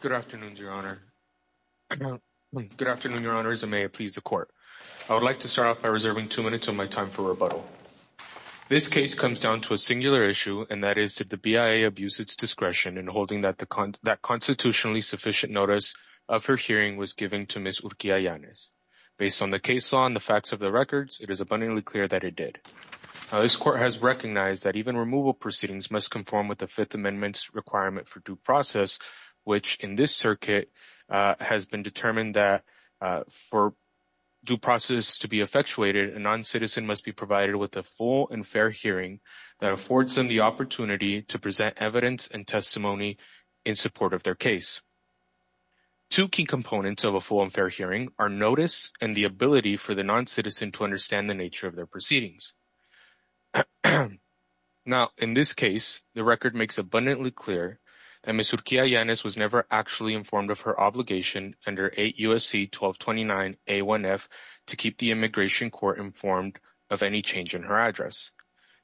Good afternoon, Your Honor. Good afternoon, Your Honor. As it may please the Court, I would like to start off by reserving two minutes of my time for rebuttal. This case comes down to a singular issue, and that is, did the BIA abuse its discretion in holding that constitutionally sufficient notice of her hearing was given to Ms. Urquia-Yanez? Based on the case law and the facts of the records, it is abundantly clear that it did. This Court has recognized that even removal proceedings must conform with the Fifth Amendment, which in this circuit has been determined that for due process to be effectuated, a non-citizen must be provided with a full and fair hearing that affords them the opportunity to present evidence and testimony in support of their case. Two key components of a full and fair hearing are notice and the ability for the non-citizen to understand the nature of their proceedings. Now, in this case, the record makes abundantly clear that Ms. Urquia-Yanez was never informed of her obligation under 8 U.S.C. 1229-A1F to keep the Immigration Court informed of any change in her address.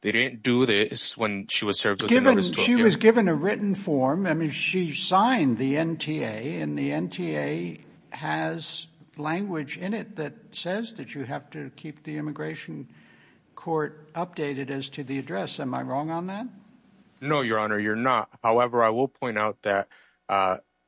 They didn't do this when she was served with the notice. She was given a written form. I mean, she signed the NTA, and the NTA has language in it that says that you have to keep the Immigration Court updated as to the address. Am I wrong on that? No, Your Honor, you're not. However, I will point out that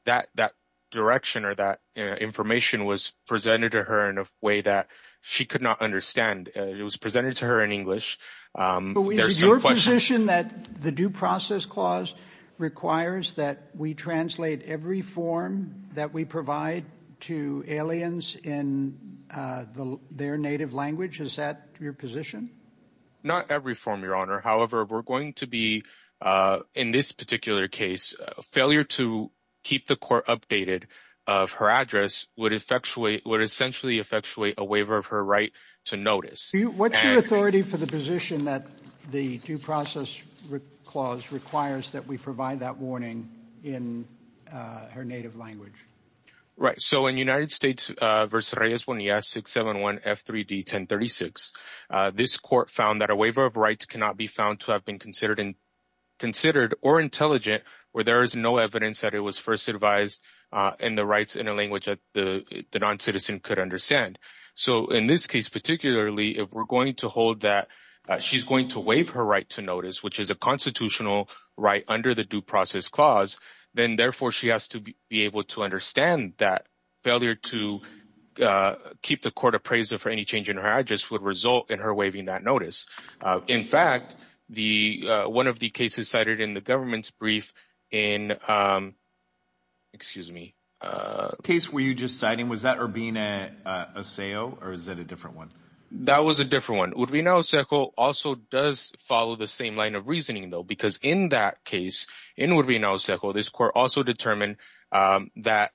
that direction or that information was presented to her in a way that she could not understand. It was presented to her in English. Is it your position that the Due Process Clause requires that we translate every form that we provide to aliens in their native language? Is that your position? Not every form, Your Honor. However, we're going to be, in this particular case, a failure to keep the court updated of her address would effectuate, would essentially effectuate, a waiver of her right to notice. What's your authority for the position that the Due Process Clause requires that we provide that warning in her native language? Right. So, in United States v. Reyes Bonilla 671 F3D 1036, this court found that a waiver of rights cannot be found to have been considered or intelligent where there is no evidence that it was first advised in the rights in a language that the non-citizen could understand. So, in this case particularly, if we're going to hold that she's going to waive her right to notice, which is a constitutional right under the Due Process Clause, then therefore she has to be able to understand that failure to keep the court appraisal for any change in her address would result in her waiving that notice. In fact, one of the cases cited in the government's brief in, excuse me. Case were you just citing, was that Urbina Oseo or is that a different one? That was a different one. Urbina Oseo also does follow the same line of reasoning though because in that case, in Urbina Oseo, this court also determined that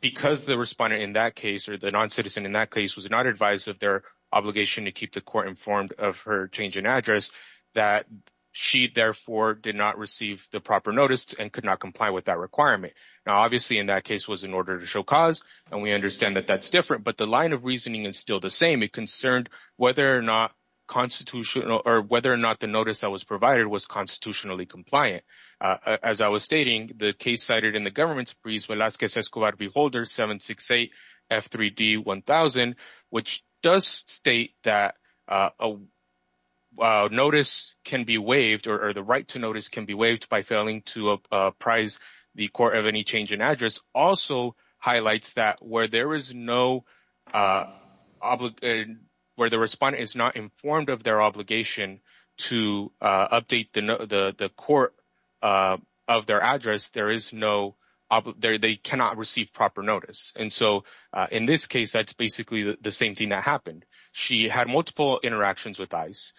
because the respondent in that case or the non-citizen in that case was not advised of their obligation to keep the court informed of her change in address that she therefore did not receive the proper notice and could not comply with that requirement. Now, obviously in that case was in order to show cause and we understand that that's different, but the line of reasoning is still the same. It concerned whether or not constitutional or whether or not the notice that was provided was constitutionally compliant. As I was stating, the case cited in the government's brief Velasquez Escobar Beholder 768 F3D 1000, which does state that a notice can be waived or the right to notice can be waived by failing to apprise the court of any change in address, also highlights that where there is no where the respondent is not informed of their obligation to update the court of their address, there is no, they cannot receive proper notice. And so in this case, that's basically the same thing that happened. She had multiple interactions with ICE.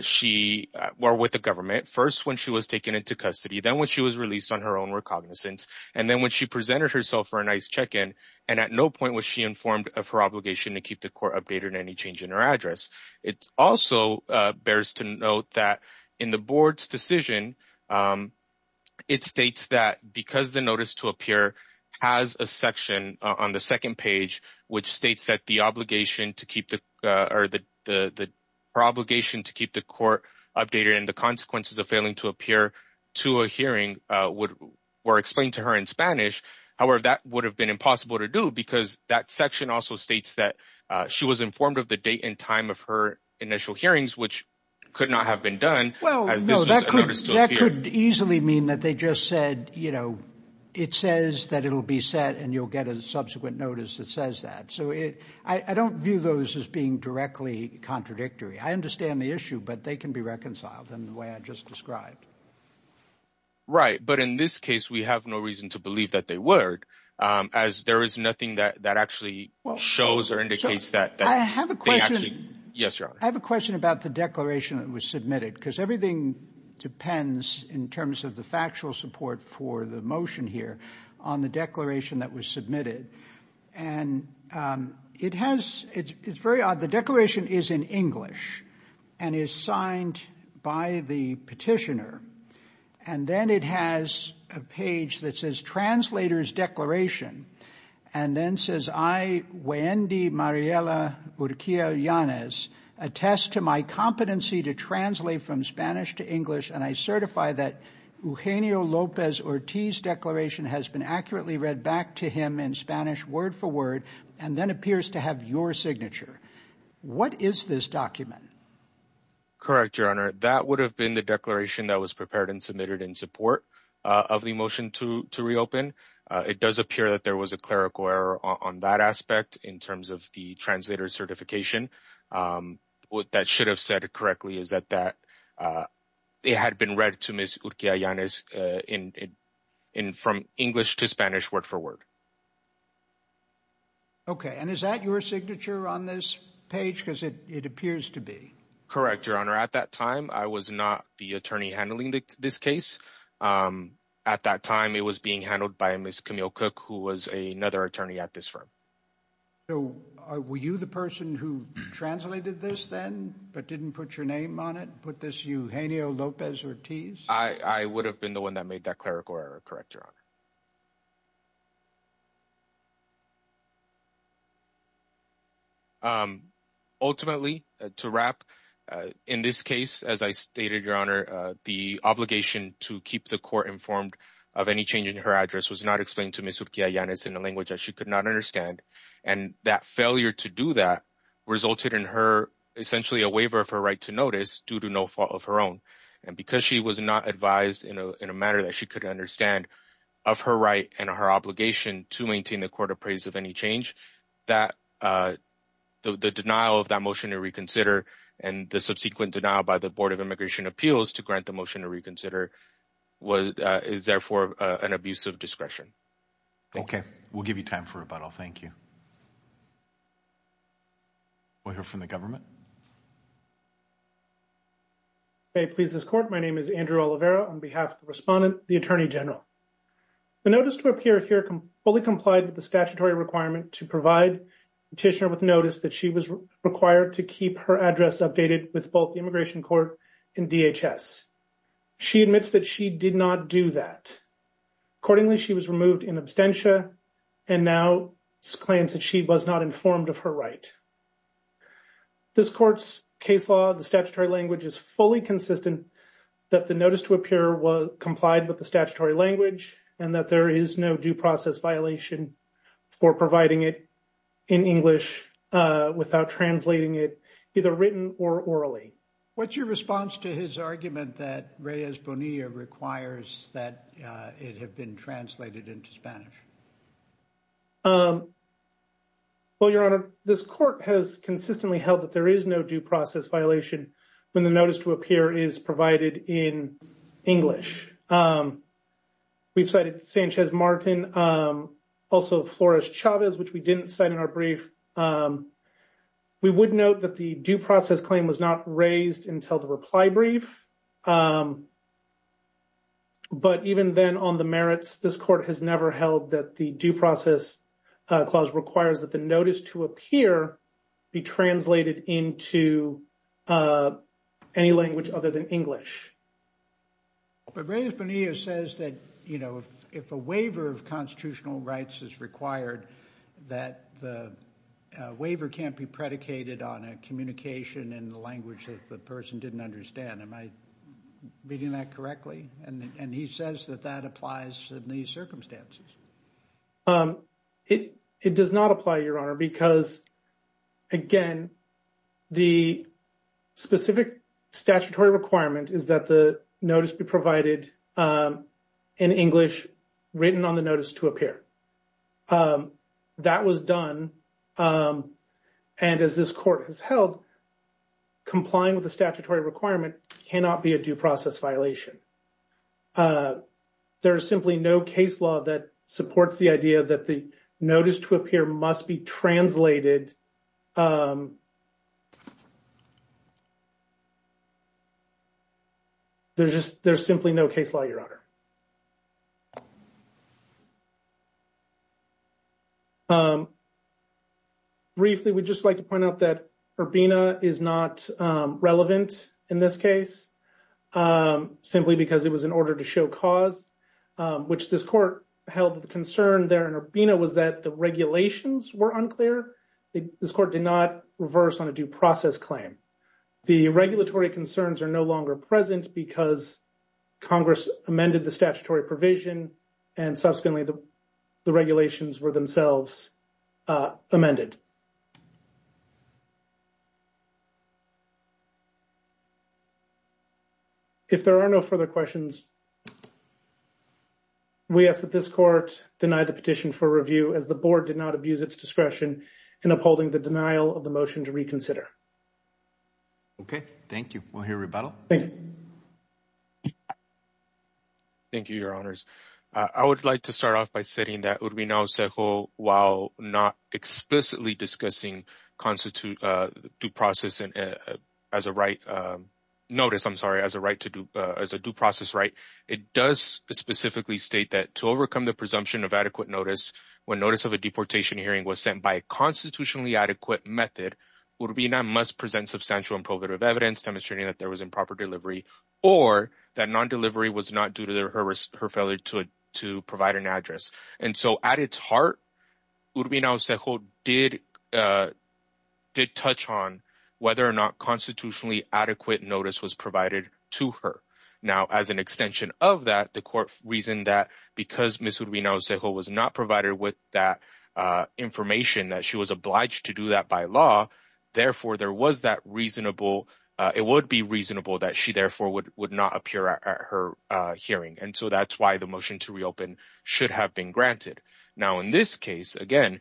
She were with the government first when she was taken into custody, then when she was released on her own recognizance, and then when she presented herself for an ICE check-in, and at no point was she informed of her obligation to keep the court updated on any change in her address. It also bears to note that in the board's decision, it states that because the notice to appear has a section on the second page, which states that the obligation to keep the, or her obligation to keep the court updated and the consequences of failing to appear to a hearing were explained to her in Spanish. However, that would have been impossible to do because that section also states that she was informed of the date and time of her initial hearings, which could not have been done. Well, that could easily mean that they just said, you know, it says that it will be set and you'll get a subsequent notice that says that. So I don't view those as being directly contradictory. I understand the issue, but they can be reconciled in the way I just described. Right. But in this case, we have no reason to believe that they were, as there is nothing that actually shows or indicates that. I have a question. Yes, Your Honor. I have a question about the declaration that was submitted, because everything depends in terms of the factual support for the motion here on the declaration that was submitted. And it has, it's very odd. The declaration is in English and is signed by the petitioner. And then it has a page that says translator's declaration. And then says, I, Wendy Mariella Urquiza Yanez, attest to my competency to translate from Spanish to English. And I certify that Eugenio Lopez Ortiz declaration has been accurately read back to him in Spanish, word for word, and then appears to have your signature. What is this document? Correct, Your Honor. That would have been the declaration that was prepared and submitted in support of the motion to reopen. It does appear that there was a clerical error on that aspect in terms of the translator certification. What that should have said correctly is that that it had been read to Ms. Urquiza Yanez from English to Spanish, word for word. Okay, and is that your signature on this page? Because it appears to be. Correct, Your Honor. At that time, I was not the attorney handling this case. At that time, it was being handled by Ms. Camille Cook, who was another attorney at this firm. So were you the person who translated this then but didn't put your name on it, put this Eugenio Lopez Ortiz? I would have been the one that made that clerical error. Correct, Your Honor. Ultimately, to wrap in this case, as I stated, Your Honor, the obligation to keep the court informed of any change in her address was not explained to Ms. Urquiza Yanez in a language that she could not understand. And that failure to do that resulted in her essentially a waiver of her right to notice due to no fault of her own. And because she was not advised in a manner that she couldn't understand of her right and her obligation to maintain the court appraise of any change, the denial of that motion to reconsider and the subsequent denial by the Board of Immigration Appeals to grant the motion to reconsider is therefore an abuse of discretion. Okay, we'll give you time for rebuttal. Thank you. We'll hear from the government. May it please this court, my name is Andrew Oliveira on behalf of the respondent, the Attorney General. The notice to appear here fully complied with the statutory requirement to provide petitioner with notice that she was required to keep her address updated with both the Immigration Court and DHS. She admits that she did not do that. Accordingly, she was removed in absentia and now claims that she was not informed of her right. This court's case law, the statutory language is fully consistent that the notice to appear was complied with the statutory language and that there is no due process violation for providing it in English without translating it either written or orally. What's your response to his argument that Reyes Bonilla requires that it have been translated into Spanish? Well, Your Honor, this court has consistently held that there is no due process violation when the notice to appear is provided in English. We've cited Sanchez Martin, also Flores Chavez, which we didn't cite in our brief. We would note that the due process claim was not raised until the reply brief. But even then on the merits, this court has never held that the due process clause requires that the notice to appear be translated into any language other than English. But Reyes Bonilla says that, you know, if a waiver of constitutional rights is required, that the waiver can't be predicated on a communication in the language that the person didn't understand. Am I reading that correctly? And he says that that applies in these circumstances. It does not apply, Your Honor, because, again, the specific statutory requirement is that the notice be provided in English written on the notice to appear. That was done. And as this court has held, complying with the statutory requirement cannot be a due process violation. There is simply no case law that supports the idea that the notice to appear must be translated into English. There's just – there's simply no case law, Your Honor. Briefly, we'd just like to point out that Urbina is not relevant in this case, simply because it was in order to show cause, which this court held the concern there in Urbina was that the regulations were unclear. This court did not reverse on a due process claim. The regulatory concerns are no longer present because Congress amended the statutory provision and subsequently the regulations were themselves amended. If there are no further questions, we ask that this court deny the petition for review as the board did not abuse its discretion in upholding the denial of the motion to reconsider. Okay. Thank you. We'll hear rebuttal. Thank you, Your Honors. I would like to start off by saying that Urbina-Acejo, while not explicitly discussing constitute due process as a right – notice, I'm sorry, as a right to do – as a due process right, it does specifically state that to overcome the presumption of adequate notice when notice of a deportation hearing was sent by a constitutionally adequate method, Urbina must present substantial and probative evidence demonstrating that there was improper delivery or that non-delivery was not due to her failure to provide an address. And so at its heart, Urbina-Acejo did touch on whether or not constitutionally adequate notice was provided to her. Now, as an extension of that, the court reasoned that because Ms. Urbina-Acejo was not provided with that information that she was obliged to do that by law, therefore, there was that reasonable – it would be reasonable that she therefore would not appear at her hearing. And so that's why the motion to reopen should have been granted. Now, in this case, again,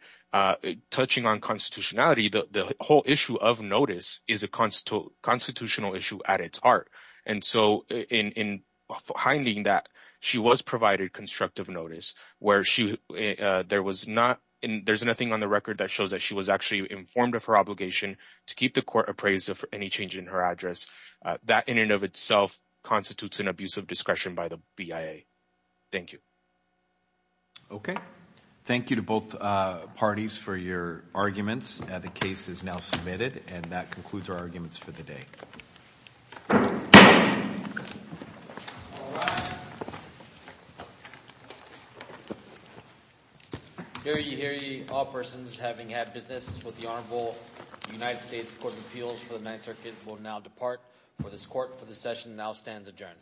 touching on constitutionality, the whole issue of notice is a constitutional issue at its heart. And so in hindering that, she was provided constructive notice where she – there was not – there's nothing on the record that shows that she was actually informed of her obligation to keep the court appraised of any change in her address. That in and of itself constitutes an abuse of discretion by the BIA. Thank you. Okay. Thank you to both parties for your arguments. The case is now submitted, and that concludes our arguments for the day. Hear ye, hear ye, all persons having had business with the Honorable United States Court of Appeals for the Ninth Circuit will now depart. For this court, for this session, now stands adjourned.